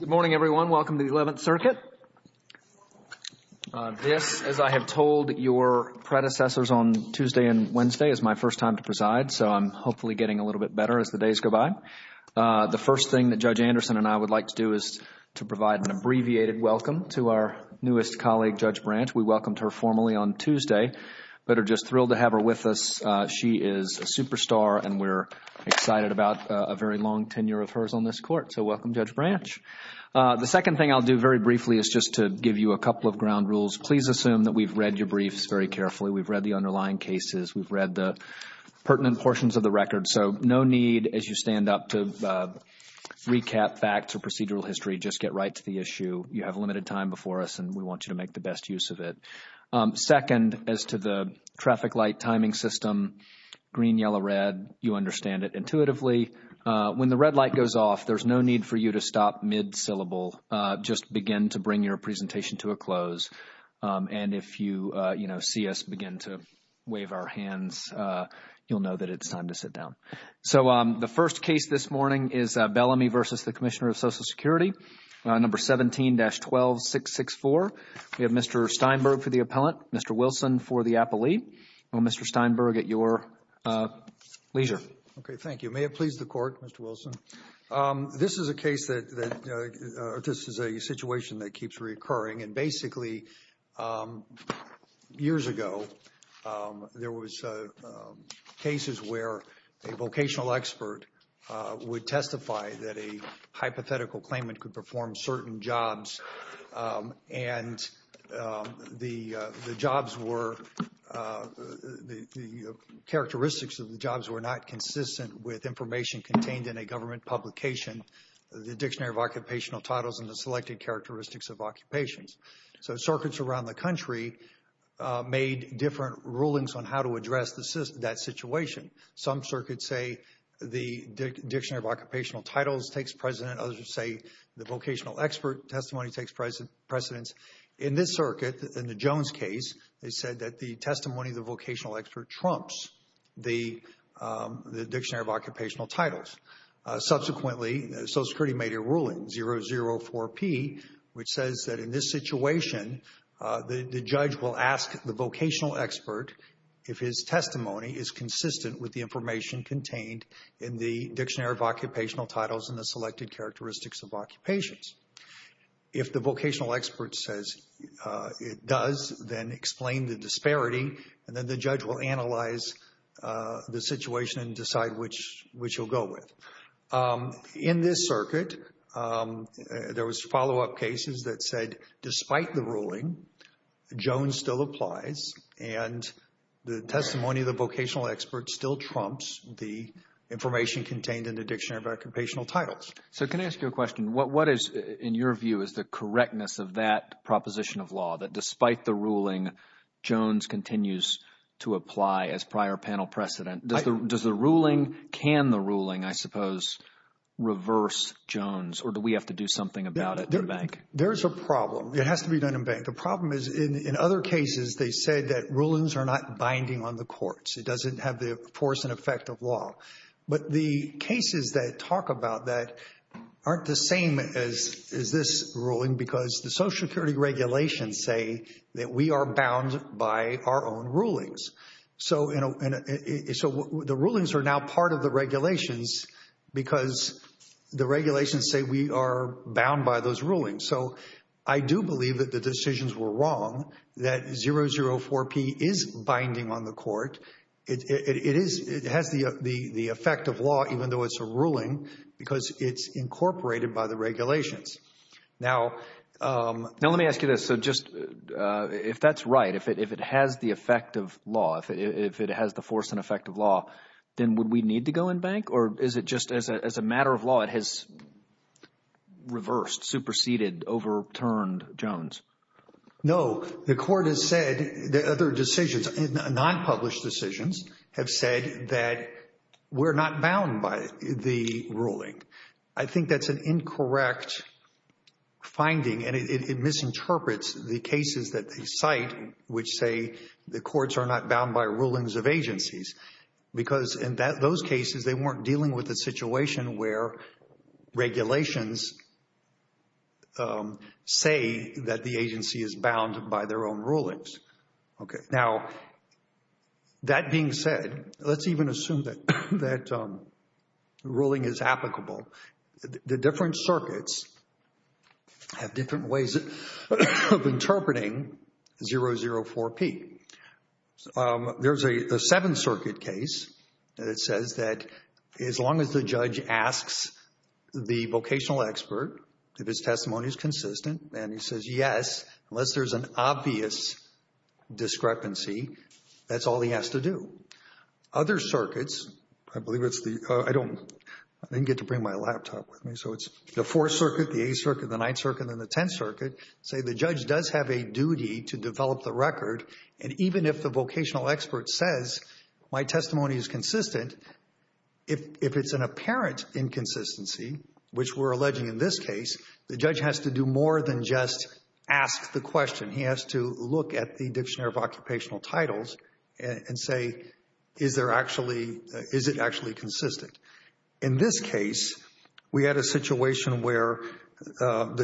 Good morning, everyone. Welcome to the Eleventh Circuit. This, as I have told your predecessors on Tuesday and Wednesday, is my first time to preside, so I'm hopefully getting a little bit better as the days go by. The first thing that Judge Anderson and I would like to do is to provide an abbreviated welcome to our newest colleague, Judge Branch. We welcomed her formally on Tuesday, but are just thrilled to have her with us. She is a superstar, and we're excited about a very long tenure of hers on this Court, so welcome, Judge Branch. The second thing I'll do very briefly is just to give you a couple of ground rules. Please assume that we've read your briefs very carefully. We've read the underlying cases. We've read the pertinent portions of the record, so no need, as you stand up, to recap facts or procedural history. Just get right to the issue. You have limited time before us, and we want you to make the best use of it. Second, as to the traffic light timing system, green-yellow-red, you understand it intuitively. When the red light goes off, there's no need for you to stop mid-syllable. Just begin to bring your presentation to a close, and if you, you know, see us begin to wave our hands, you'll know that it's time to sit down. So the first case this morning is Bellamy v. the Commissioner of Social Security, number 17-12664. We have Mr. Steinberg for the appellant, Mr. Wilson for the appellee. Mr. Steinberg, at your leisure. Okay, thank you. May it please the Court, Mr. Wilson? This is a case that, or this is a situation that keeps reoccurring, and basically, years ago, there was cases where a vocational expert would testify that a hypothetical claimant could perform certain jobs, and the jobs were, the characteristics of the jobs were not consistent with information contained in a government publication, the Dictionary of Occupational Titles, and the selected characteristics of occupations. So circuits around the country made different rulings on how to address that situation. Some circuits say the Dictionary of Occupational Titles takes precedent, others would say the vocational expert testimony takes precedence. In this circuit, in the Jones case, they said that the testimony of the vocational expert trumps the Dictionary of Occupational Titles. Subsequently, Social Security made a ruling, 004P, which says that in this situation, the judge will ask the vocational expert if his testimony is consistent with the information contained in the Dictionary of Occupational Titles and the selected characteristics of occupations. If the vocational expert says it does, then explain the disparity, and then the judge will analyze the situation and decide which he'll go with. In this circuit, there was follow-up cases that said despite the ruling, Jones still applies, and the testimony of the vocational expert still trumps the information contained in the Dictionary of Occupational Titles. So can I ask you a question? What is, in your view, is the correctness of that proposition of law, that despite the ruling, Jones continues to apply as prior panel precedent? Does the ruling, can the ruling, I suppose, reverse Jones, or do we have to do something about it at the bank? There's a problem. It has to be done in bank. The problem is in other cases, they said that rulings are not binding on the courts. It doesn't have the force and effect of law. But the cases that talk about that aren't the same as this ruling because the Social The rulings are now part of the regulations because the regulations say we are bound by those rulings. So I do believe that the decisions were wrong, that 004P is binding on the court. It is, it has the effect of law even though it's a ruling because it's incorporated by the regulations. Now, let me ask you this. So just, if that's right, if it has the effect of law, if it has the force and effect of law, then would we need to go in bank or is it just as a matter of law, it has reversed, superseded, overturned Jones? No. The court has said, the other decisions, non-published decisions have said that we're not bound by the ruling. I think that's an incorrect finding and it misinterprets the agencies because in those cases they weren't dealing with a situation where regulations say that the agency is bound by their own rulings. Now that being said, let's even assume that ruling is applicable. The different circuits have different ways of interpreting 004P. There's a Seventh Circuit case that it says that as long as the judge asks the vocational expert if his testimony is consistent and he says yes, unless there's an obvious discrepancy, that's all he has to do. Other circuits, I Circuit, the Eighth Circuit, the Ninth Circuit, and the Tenth Circuit, say the judge does have a duty to develop the record and even if the vocational expert says my testimony is consistent, if it's an apparent inconsistency, which we're alleging in this case, the judge has to do more than just ask the question. He has to look at the Dictionary of Occupational The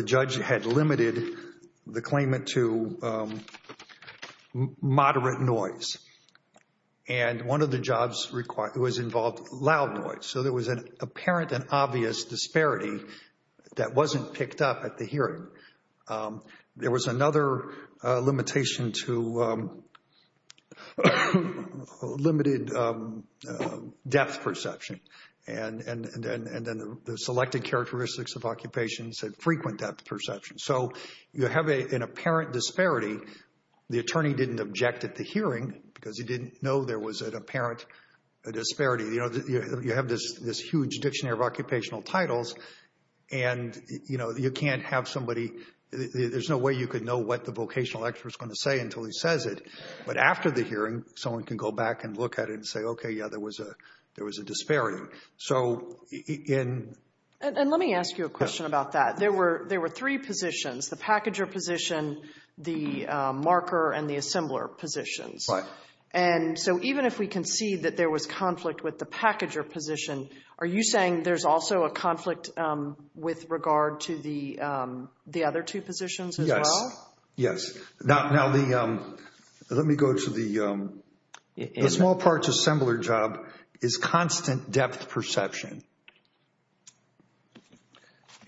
judge had limited the claimant to moderate noise and one of the jobs was involved loud noise. So there was an apparent and obvious disparity that wasn't picked up at the hearing. There was another limitation to limited depth perception and then the selected characteristics of occupation said frequent depth perception. So you have an apparent disparity. The attorney didn't object at the hearing because he didn't know there was an apparent disparity. You have this huge Dictionary of Occupational Titles and you can't have somebody, there's no way you could know what the vocational expert is going to say until he says it. But after the hearing, someone can go back and look at it and say, okay, yeah, there was a disparity. So in... And let me ask you a question about that. There were three positions, the packager position, the marker and the assembler positions. And so even if we can see that there was conflict with the packager position, are you saying there's also a conflict with regard to the other two positions as well? Yes. Now, the... Let me go to the... The small parts assembler job is constant depth perception.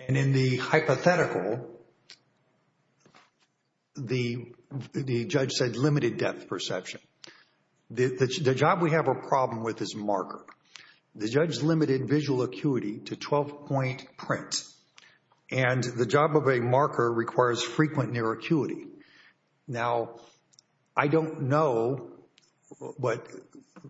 And in the hypothetical, the judge said limited depth perception. The job we have a problem with is marker. The judge limited visual acuity to 12-point print. And the job of a marker requires frequent near acuity. Now, I don't know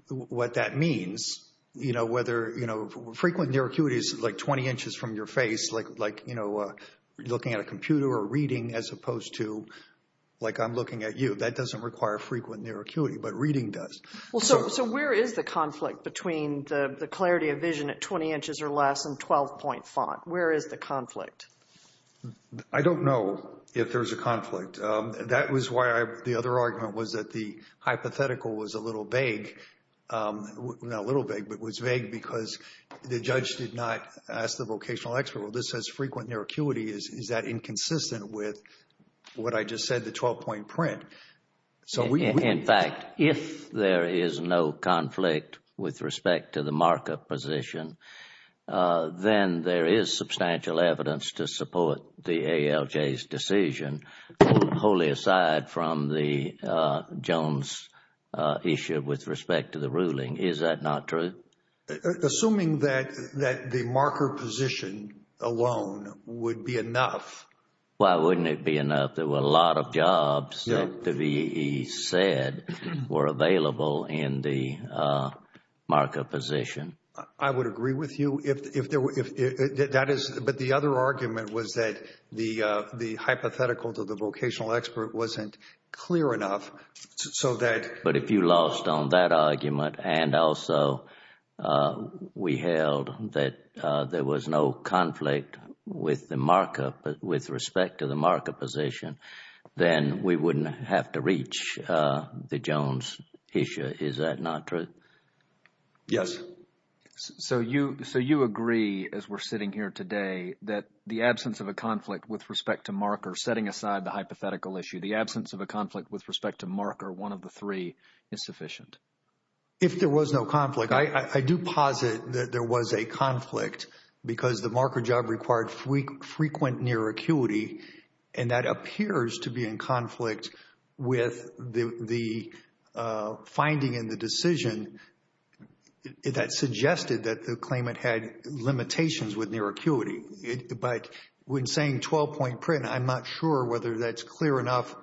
what that means, you know, whether, you know, frequent near acuity is like 20 inches from your face, like, you know, looking at a computer or reading as opposed to, like, I'm looking at you. That doesn't require frequent near acuity, but reading does. Well, so where is the conflict between the clarity of vision at 20 inches or less and 12-point font? Where is the conflict? I don't know if there's a conflict. That was why the other argument was that the hypothetical was a little vague. Not a little vague, but was vague because the judge did not ask the vocational expert, well, this has frequent near acuity. Is that inconsistent with what I just said, the 12-point print? So we... In fact, if there is no conflict with respect to the marker position, then there is substantial evidence to support the ALJ's decision, wholly aside from the Jones issue with respect to the ruling. Is that not true? Assuming that the marker position alone would be enough. Why wouldn't it be enough? There were a lot of jobs that the VEE said were available in the marker position. I would agree with you. But the other argument was that the hypothetical to the vocational expert wasn't clear enough so that... But if you lost on that argument and also we held that there was no conflict with respect to the marker position, then we wouldn't have to reach the Jones issue. Is that not true? Yes. So you agree, as we're sitting here today, that the absence of a conflict with respect to marker, setting aside the hypothetical issue, the absence of a conflict with respect to marker, one of the three, is sufficient? If there was no conflict, I do posit that there was a conflict because the marker job required frequent near acuity, and that appears to be in conflict with the finding in the decision that suggested that the claimant had limitations with near acuity. But when saying 12-point print, I'm not sure whether that's clear enough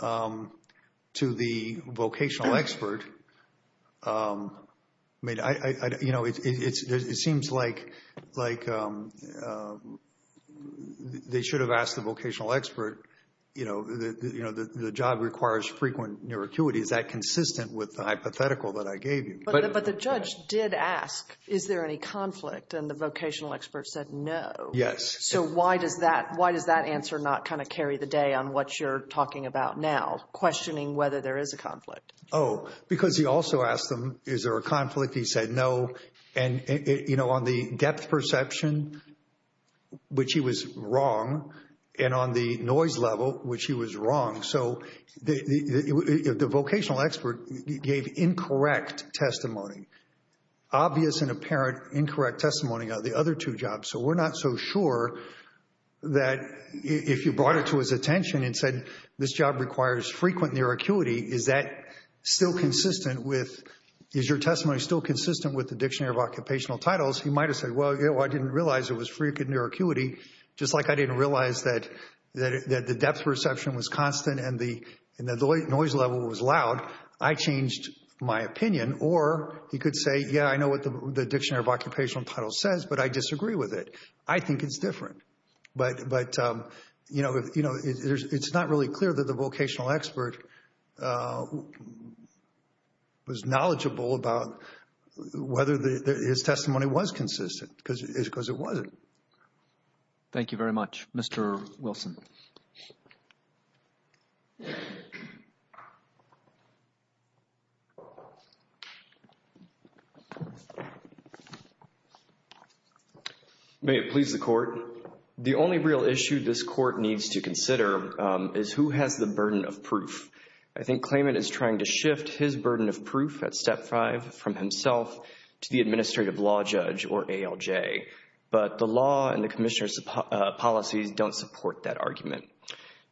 to the vocational expert. I mean, you know, it seems like they should have asked the vocational expert, you know, the job requires frequent near acuity. Is that consistent with the hypothetical that I gave you? But the judge did ask, is there any conflict? And the vocational expert said no. Yes. So why does that answer not kind of carry the day on what you're talking about now, questioning whether there is a conflict? Oh, because he also asked them, is there a conflict? He said no. And, you know, on the depth perception, which he was wrong, and on the noise level, which he was wrong. So the vocational expert gave incorrect testimony, obvious and apparent incorrect testimony on the other two jobs. So we're not so sure that if you brought it to his attention and said this job requires frequent near acuity, is that still consistent with, is your testimony still consistent with the Dictionary of Occupational Titles? He might have said, well, you know, I didn't realize it was frequent near acuity. Just like I didn't realize that the depth perception was constant and the noise level was loud, I changed my opinion. Or he could say, yeah, I know what the Dictionary of Occupational Titles says, but I disagree with it. I think it's different. But, you know, it's not really clear that the vocational expert was knowledgeable about whether his testimony was consistent because it wasn't. Thank you very much, Mr. Wilson. May it please the Court. The only real issue this Court needs to consider is who has the burden of proof. I think Klayman is trying to shift his burden of proof at Step 5 from himself to the Administrative Law Judge, or ALJ. But the law and the Commissioner's policies don't support that argument.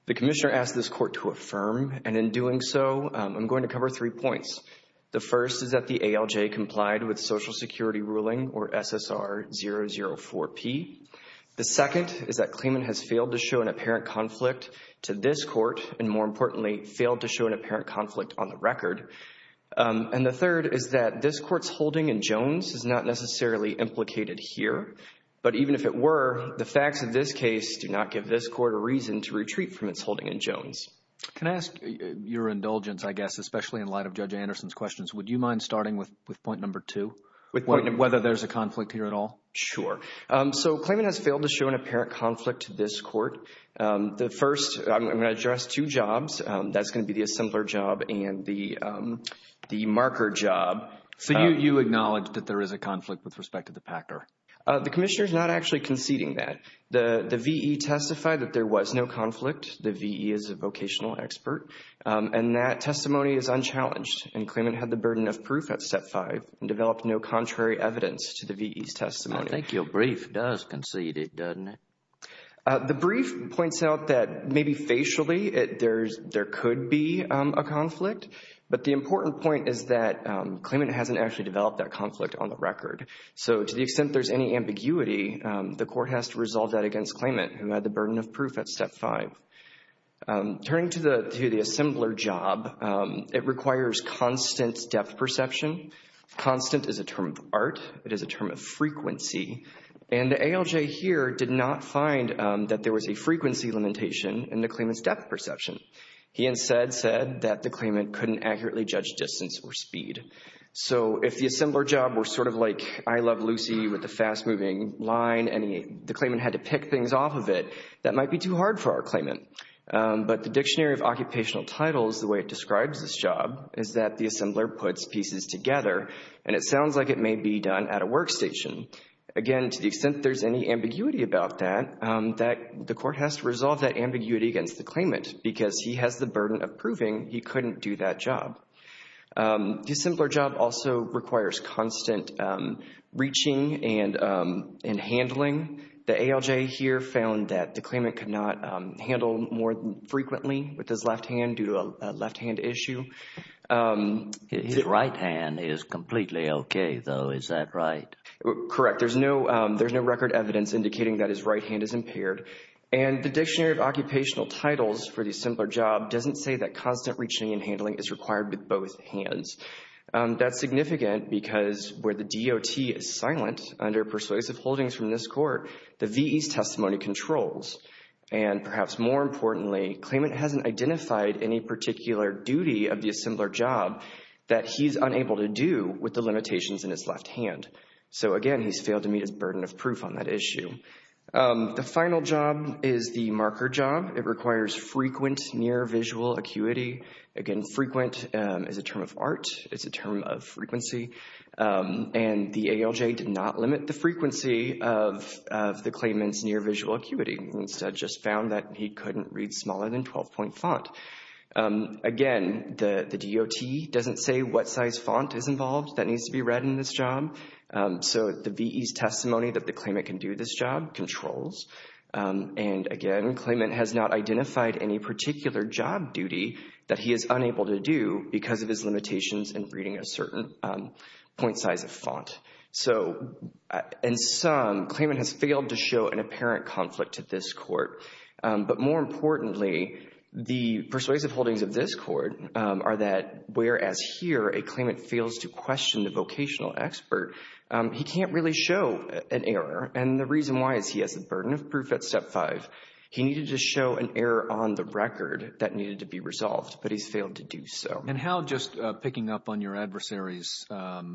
The Commissioner asked this Court to affirm, and in doing so, I'm going to cover three points. The first is that the ALJ complied with Social Security Ruling, or SSR 004P. The second is that Klayman has failed to show an apparent conflict to this Court, and more importantly, failed to show an apparent conflict on the record. And the third is that this Court's holding in Jones is not necessarily implicated here, but even if it were, the facts of this case do not give this Court a reason to retreat from its holding in Jones. Can I ask your indulgence, I guess, especially in light of Judge Anderson's questions? Would you mind starting with point number two, whether there's a conflict here at all? Sure. So, Klayman has failed to show an apparent conflict to this Court. The first, I'm going to address two jobs. That's going to be the assembler job and the marker job. So you acknowledge that there is a conflict with respect to the The Commissioner is not actually conceding that. The V.E. testified that there was no conflict. The V.E. is a vocational expert, and that testimony is unchallenged, and Klayman had the burden of proof at step five, and developed no contrary evidence to the V.E.'s testimony. I think your brief does concede it, doesn't it? The brief points out that maybe facially, there could be a conflict, but the important point is that Klayman hasn't actually developed that conflict on the record. So to the extent there's any ambiguity, the Court has to resolve that against Klayman, who had the burden of proof at step five. Turning to the assembler job, it requires constant depth perception. Constant is a term of art. It is a term of frequency, and the ALJ here did not find that there was a frequency limitation in the Klayman's depth perception. He instead said that the Klayman couldn't accurately judge distance or speed. So if the assembler job were sort of like I Love Lucy with the fast-moving line, and the Klayman had to pick things off of it, that might be too hard for our Klayman. But the Dictionary of Occupational Titles, the way it describes this job, is that the assembler puts pieces together, and it sounds like it may be done at a workstation. Again, to the extent there's any ambiguity about that, the Court has to resolve that ambiguity against the Klayman, because he has the burden of proving he couldn't do that job. The assembler job also requires constant reaching and handling. The ALJ here found that the Klayman could not handle more frequently with his left hand due to a left-hand issue. His right hand is completely okay though, is that right? Correct. There's no record evidence indicating that his right hand is impaired. And the Dictionary of Occupational Titles for the assembler job doesn't say that constant reaching and handling is required with both hands. That's significant because where the DOT is silent under persuasive holdings from this Court, the VE's testimony controls. And perhaps more importantly, Klayman hasn't identified any particular duty of the assembler job that he's unable to do with the limitations in his left hand. So again, he's failed to meet his burden of proof on that issue. The marker job, it requires frequent near-visual acuity. Again, frequent is a term of art. It's a term of frequency. And the ALJ did not limit the frequency of the Klayman's near-visual acuity. They just found that he couldn't read smaller than 12-point font. Again, the DOT doesn't say what size font is involved that needs to be read in this job. So the VE's claimant has not identified any particular job duty that he is unable to do because of his limitations in reading a certain point size of font. So in sum, Klayman has failed to show an apparent conflict to this Court. But more importantly, the persuasive holdings of this Court are that whereas here a claimant fails to question the vocational expert, he needed to show an error on the record that needed to be resolved. But he's failed to do so. And how, just picking up on your adversary's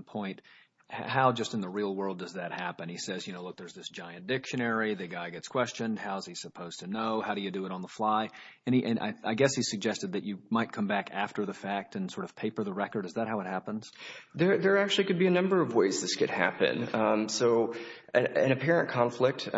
point, how just in the real world does that happen? He says, you know, look, there's this giant dictionary. The guy gets questioned. How is he supposed to know? How do you do it on the fly? And I guess he suggested that you might come back after the fact and sort of paper the record. Is that how it happens? There actually could be a number of ways this could happen. So an apparent conflict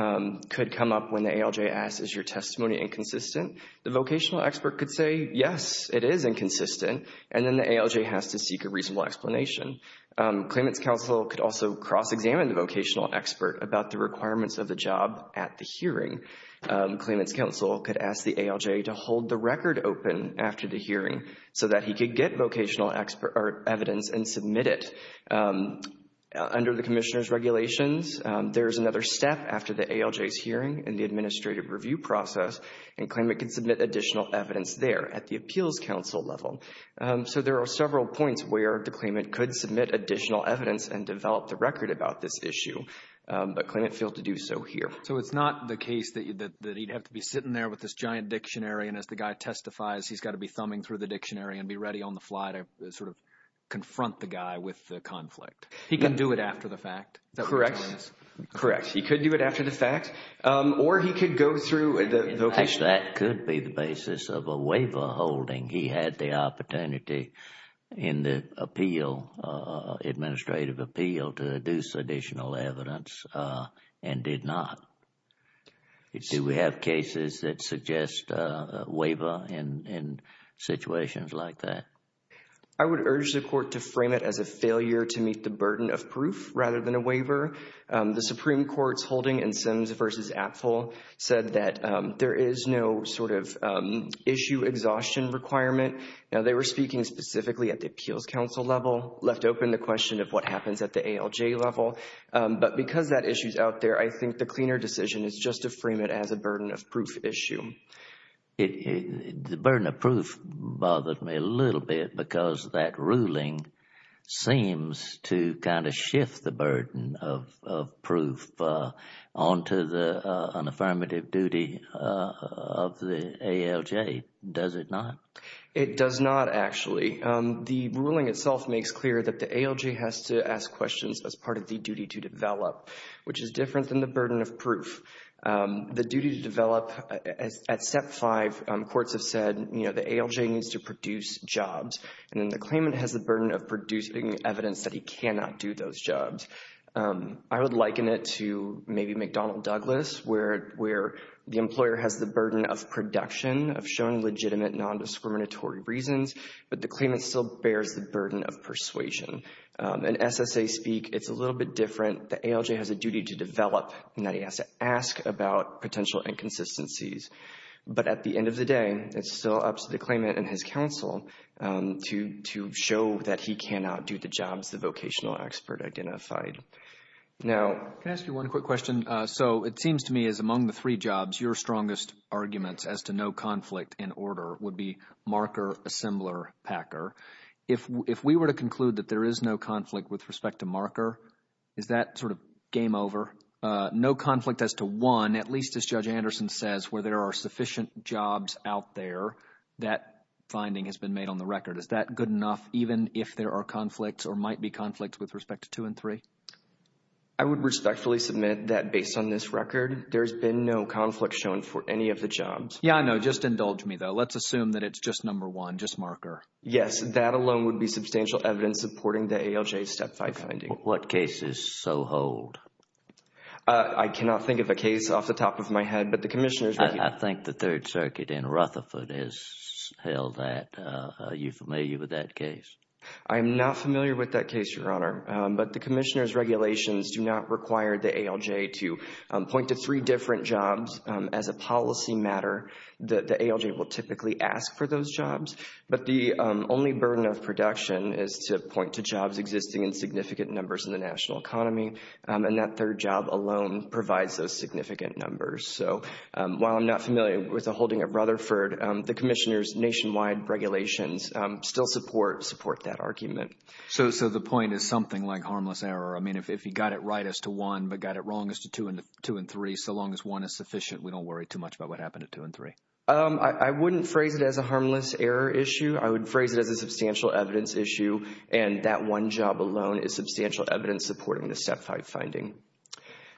could come up when the ALJ asks, is your testimony inconsistent? The vocational expert could say, yes, it is inconsistent. And then the ALJ has to seek a reasonable explanation. Claimant's counsel could also cross-examine the vocational expert about the requirements of the job at the hearing. Claimant's counsel could ask the ALJ to hold the record open after the hearing so that he could get vocational evidence and submit it. Under the Commissioner's regulations, there is another step after the ALJ's hearing in the administrative review process, and claimant can submit additional evidence there at the appeals counsel level. So there are several points where the claimant could submit additional evidence and develop the record about this issue, but claimant failed to do so here. So it's not the case that he'd have to be sitting there with this giant dictionary, and as the guy testifies, he's got to be thumbing through the dictionary and be ready on the fly to sort of confront the guy with the conflict. He can do it after the fact. Correct. Correct. He could do it after the fact, or he could go through the vocation. That could be the basis of a waiver holding. He had the opportunity in the appeal, administrative appeal, to deduce additional evidence and did not. Do we have cases that suggest a waiver in situations like that? I would urge the court to frame it as a failure to meet the burden of proof rather than a waiver. The Supreme Court's holding in Sims v. Apfel said that there is no sort of issue exhaustion requirement. Now, they were speaking specifically at the appeals counsel level, left open the question of what happens at the ALJ level, but because that issue's out there, I think the cleaner decision is just to frame it as a burden of proof issue. It, the burden of proof bothered me a little bit because that ruling seems to kind of shift the burden of proof onto the, an affirmative duty of the ALJ. Does it not? It does not, actually. The ruling itself makes clear that the ALJ has to ask questions as part of the duty to develop, which is different than the burden of proof. The duty to develop at step five, courts have said, you know, the ALJ needs to produce jobs, and then the claimant has the burden of producing evidence that he cannot do those jobs. I would liken it to maybe McDonnell Douglas, where the employer has the burden of production, of showing legitimate nondiscriminatory reasons, but the claimant still bears the burden of persuasion. In SSA speak, it's a little bit different. The ALJ has a duty to develop in that he has to ask about potential inconsistencies, but at the end of the day, it's still up to the claimant and his counsel to show that he cannot do the jobs the vocational expert identified. Now, can I ask you one quick question? So it seems to me as among the three jobs, your strongest arguments as to no conflict in order would be Marker, Assembler, Packer. If we were to conclude that there is no conflict with respect to Marker, is that sort of game over? No where there are sufficient jobs out there, that finding has been made on the record. Is that good enough even if there are conflicts or might be conflicts with respect to two and three? I would respectfully submit that based on this record, there's been no conflict shown for any of the jobs. Yeah, I know. Just indulge me, though. Let's assume that it's just number one, just Marker. Yes, that alone would be substantial evidence supporting the ALJ Step 5 finding. What case is so hold? I cannot think of a case off the top of my head, but the Commissioner's I think the Third Circuit in Rutherford has held that. Are you familiar with that case? I'm not familiar with that case, Your Honor, but the Commissioner's regulations do not require the ALJ to point to three different jobs as a policy matter. The ALJ will typically ask for those jobs, but the only burden of production is to point to jobs existing in significant numbers in the national economy, and that third job alone provides those significant numbers. So while I'm not familiar with the holding at Rutherford, the Commissioner's nationwide regulations still support that argument. So the point is something like harmless error. I mean, if he got it right as to one, but got it wrong as to two and three, so long as one is sufficient, we don't worry too I would phrase it as a substantial evidence issue, and that one job alone is substantial evidence supporting the Step 5 finding.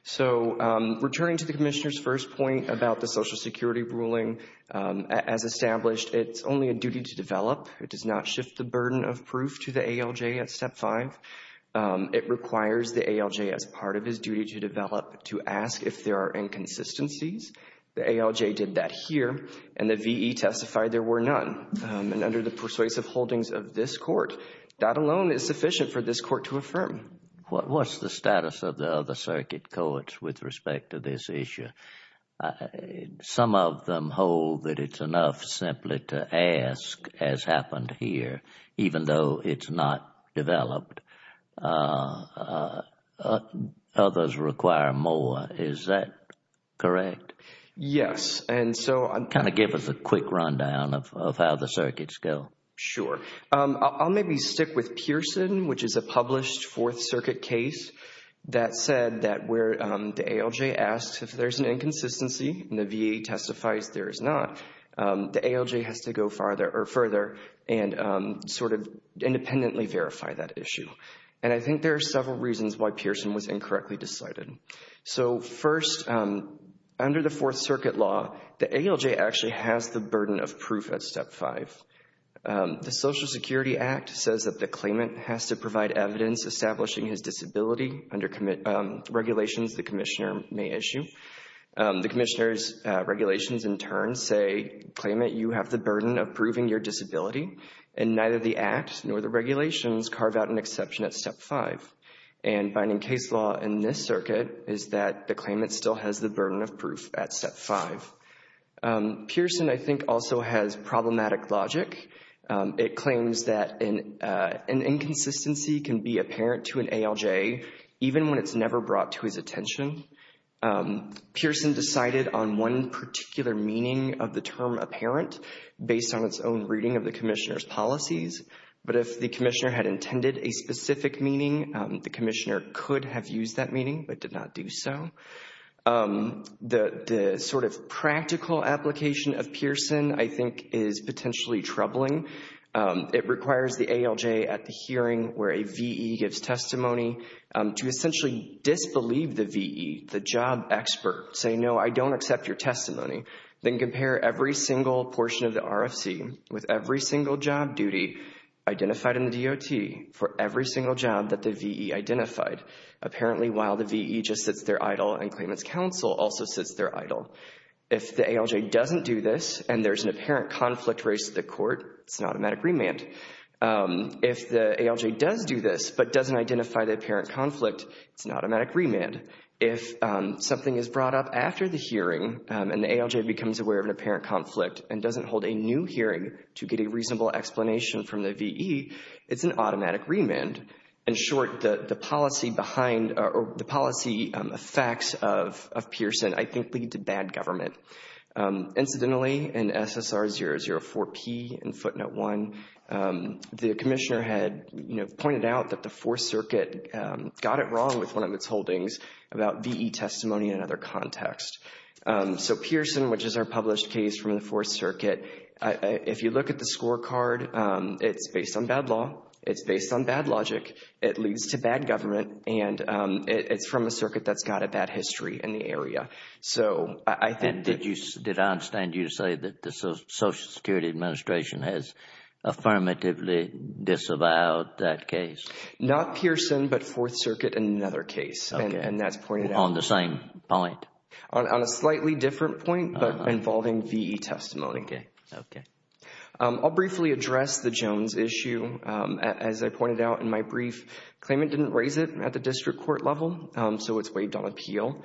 So returning to the Commissioner's first point about the Social Security ruling, as established, it's only a duty to develop. It does not shift the burden of proof to the ALJ at Step 5. It requires the ALJ as part of his duty to develop to ask if there are inconsistencies. The ALJ did that here, and the V.E. testified there were none. And under the persuasive holdings of this Court, that alone is sufficient for this Court to affirm. What's the status of the other circuit courts with respect to this issue? Some of them hold that it's enough simply to ask, as happened here, even though it's not developed. Others require more. Is that correct? Yes. And so, kind of give us a quick rundown of how the circuits go. Sure. I'll maybe stick with Pearson, which is a published Fourth Circuit case that said that where the ALJ asked if there's an inconsistency, and the V.E. testifies there is not, the ALJ has to go further and sort of independently verify that issue. And I think there are several reasons why Pearson was incorrectly decided. So first, under the Fourth Circuit law, the ALJ actually has the burden of proof at Step 5. The Social Security Act says that the claimant has to provide evidence establishing his disability under regulations the Commissioner may issue. The Commissioner's regulations in turn say, claimant, you have the burden of proving your disability. And neither the Act nor the regulations carve out an exception at Step 5. And binding case law in this circuit is that the claimant still has the burden of proof at Step 5. Pearson, I think, also has problematic logic. It claims that an inconsistency can be apparent to an ALJ, even when it's never brought to his attention. Pearson decided on one particular meaning of the term apparent based on its own reading of the Commissioner's policies. But if the Commissioner had intended a specific meaning, the Commissioner could have used that meaning, but did not do so. The sort of practical application of Pearson, I think, is potentially troubling. It requires the ALJ at the hearing where a V.E. gives testimony to essentially disbelieve the V.E., the job expert, say, no, I don't accept your testimony. Then compare every single portion of the RFC with every single job duty identified in the DOT for every single job that the V.E. identified. Apparently, while the V.E. just sits there idle and claimant's counsel also sits there idle. If the ALJ doesn't do this and there's an apparent conflict raised to the court, it's an automatic remand. If the ALJ does do this but doesn't identify the apparent conflict, it's an automatic remand. If something is brought up after the hearing and the ALJ becomes aware of an apparent conflict and doesn't hold a new hearing to get a reasonable explanation from the V.E., it's an automatic remand. In short, the policy behind or the policy effects of Pearson, I think, lead to bad government. Incidentally, in SSR 004P in footnote 1, the commissioner had, you know, pointed out that the Fourth Circuit got it wrong with one of its holdings about V.E. testimony in another context. So Pearson, which is our published case from the Fourth Circuit, if you look at the law, it's based on bad logic, it leads to bad government, and it's from a circuit that's got a bad history in the area. So I think that... Did I understand you to say that the Social Security Administration has affirmatively disavowed that case? Not Pearson, but Fourth Circuit in another case, and that's pointed out... On the same point? On a slightly different point, but testimony. Okay. Okay. I'll briefly address the Jones issue. As I pointed out in my brief, claimant didn't raise it at the district court level, so it's waived on appeal.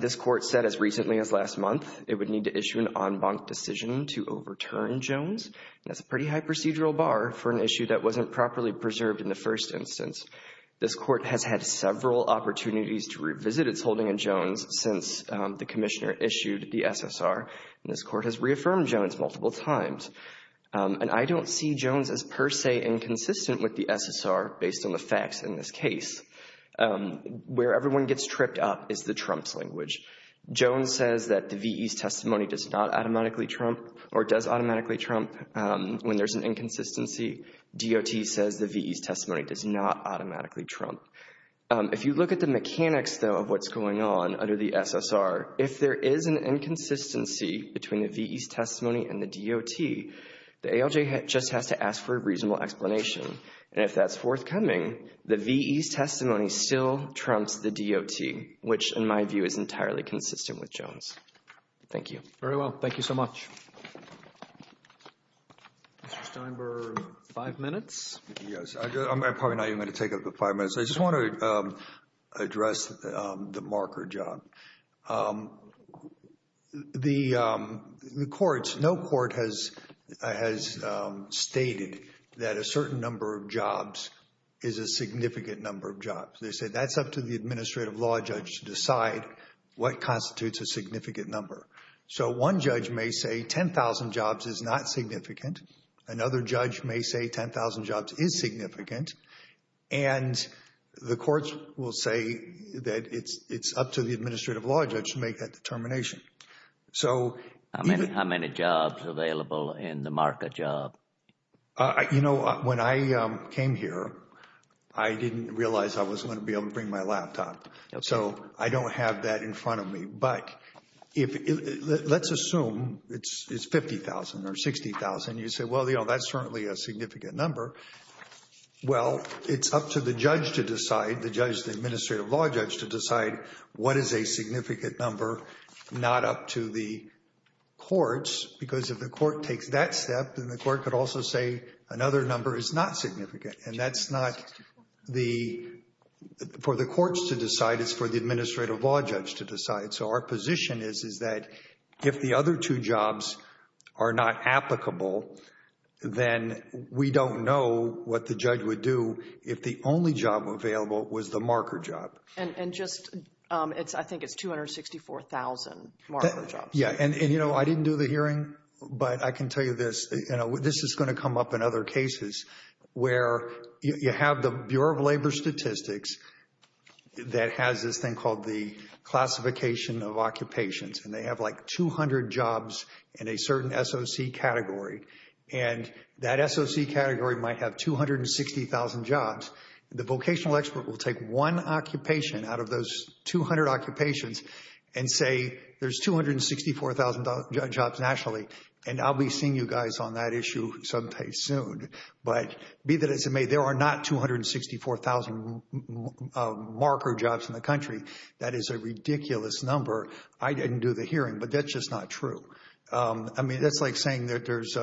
This court said as recently as last month, it would need to issue an en banc decision to overturn Jones. That's a pretty high procedural bar for an issue that wasn't properly preserved in the first instance. This court has had several opportunities to revisit its holding in Jones since the court has reaffirmed Jones multiple times, and I don't see Jones as per se inconsistent with the SSR based on the facts in this case. Where everyone gets tripped up is the trumps language. Jones says that the VE's testimony does not automatically trump or does automatically trump when there's an inconsistency. DOT says the VE's testimony does not automatically trump. If you look at the mechanics though of what's going on under the SSR, if there is an inconsistency, between the VE's testimony and the DOT, the ALJ just has to ask for a reasonable explanation, and if that's forthcoming, the VE's testimony still trumps the DOT, which in my view is entirely consistent with Jones. Thank you. Very well. Thank you so much. Mr. Steinberg, five minutes. Yes. I'm probably not even going to take up the five minutes. I just want to address the marker job. The courts, no court has stated that a certain number of jobs is a significant number of jobs. They say that's up to the administrative law judge to decide what constitutes a significant number. So one judge may say 10,000 jobs is not significant. Another judge may say 10,000 jobs is significant, and the courts will say that it's up to the administrative law judge to make that determination. How many jobs available in the marker job? You know, when I came here, I didn't realize I was going to be able to bring my laptop. So I don't have that in front of me. But let's assume it's 50,000 or 60,000. You say, well, you know, that's certainly a significant number. Well, it's up to the judge to decide, the judge, the administrative law judge, to decide what is a significant number not up to the courts, because if the court takes that step, then the court could also say another number is not for the administrative law judge to decide. So our position is, is that if the other two jobs are not applicable, then we don't know what the judge would do if the only job available was the marker job. And just, I think it's 264,000 marker jobs. Yeah, and you know, I didn't do the hearing, but I can tell you this, you know, this is going to come up in other cases where you have the Bureau of Labor Statistics that has this thing called the classification of occupations, and they have like 200 jobs in a certain SOC category. And that SOC category might have 260,000 jobs. The vocational expert will take one occupation out of those 200 occupations and say, there's 264,000 jobs nationally. And I'll be seeing you guys on that issue someday soon. But be that as it may, there are not 264,000 marker jobs in the country. That is a ridiculous number. I didn't do the hearing, but that's just not true. I mean, that's like saying that there's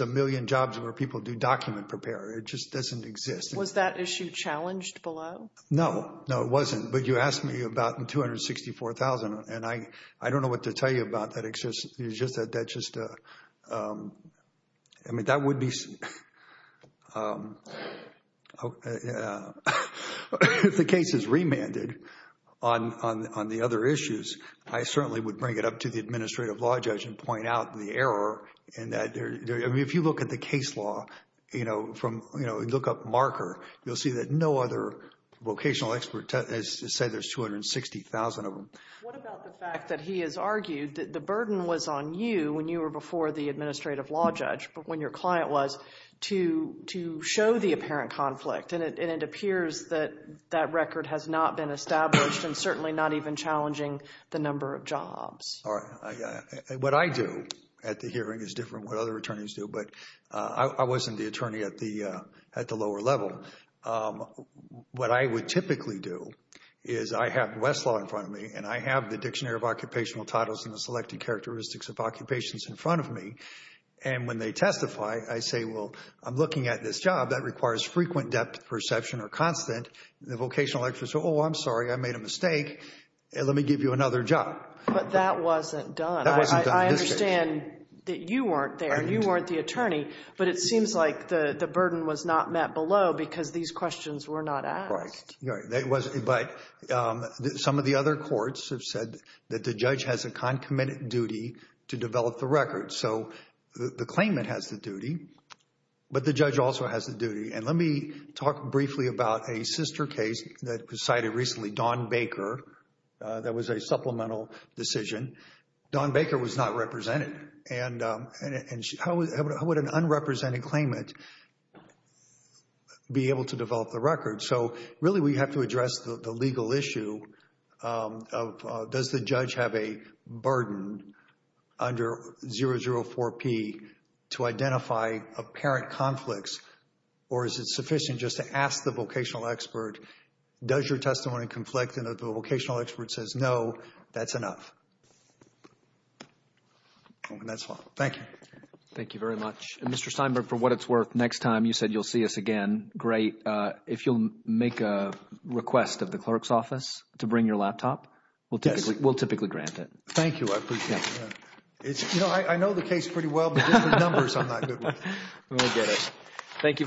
a million jobs where people do document preparer. It just doesn't exist. Was that issue challenged below? No, no, it wasn't. But you asked me about 264,000, and I don't know what to tell you about that. I mean, if the case is remanded on the other issues, I certainly would bring it up to the administrative law judge and point out the error in that. I mean, if you look at the case law, you know, look up marker, you'll see that no other vocational expert has said there's 260,000 of them. What about the fact that he has argued that the burden was on you when you were before the administrative law judge, but when your client was, to show the apparent conflict? And it appears that that record has not been established and certainly not even challenging the number of jobs. What I do at the hearing is different from what other attorneys do, but I wasn't the attorney at the lower level. What I would typically do is I have Westlaw in front of me, and I have the Dictionary of Occupational Titles and the Selected Characteristics of Occupations in front of me. And when they testify, I say, well, I'm looking at this job that requires frequent depth perception or constant. The vocational experts say, oh, I'm sorry, I made a mistake. Let me give you another job. But that wasn't done. I understand that you weren't there. You weren't the attorney, but it seems like the burden was not met below because these questions were not asked. Right. Right. But some of the other courts have said that the judge has a concomitant duty to develop the record. So the claimant has the duty, but the judge also has the duty. And let me talk briefly about a sister case that was cited recently, Dawn Baker. That was a supplemental decision. Dawn Baker was not represented. And how would an unrepresented claimant be able to develop the record? So really, we have to address the legal issue of does the judge have a burden under 004P to identify apparent conflicts, or is it sufficient just to ask the vocational expert, does your testimony conflict, and if the vocational expert says no, that's enough? Thank you. Thank you very much. Mr. Steinberg, for what it's worth, next time you said you'll see us again. Great. If you'll make a request of the clerk's office to bring your laptop, we'll typically grant it. Thank you. I appreciate it. You know, I know the case pretty well, but just the numbers, I'm not good with. Thank you.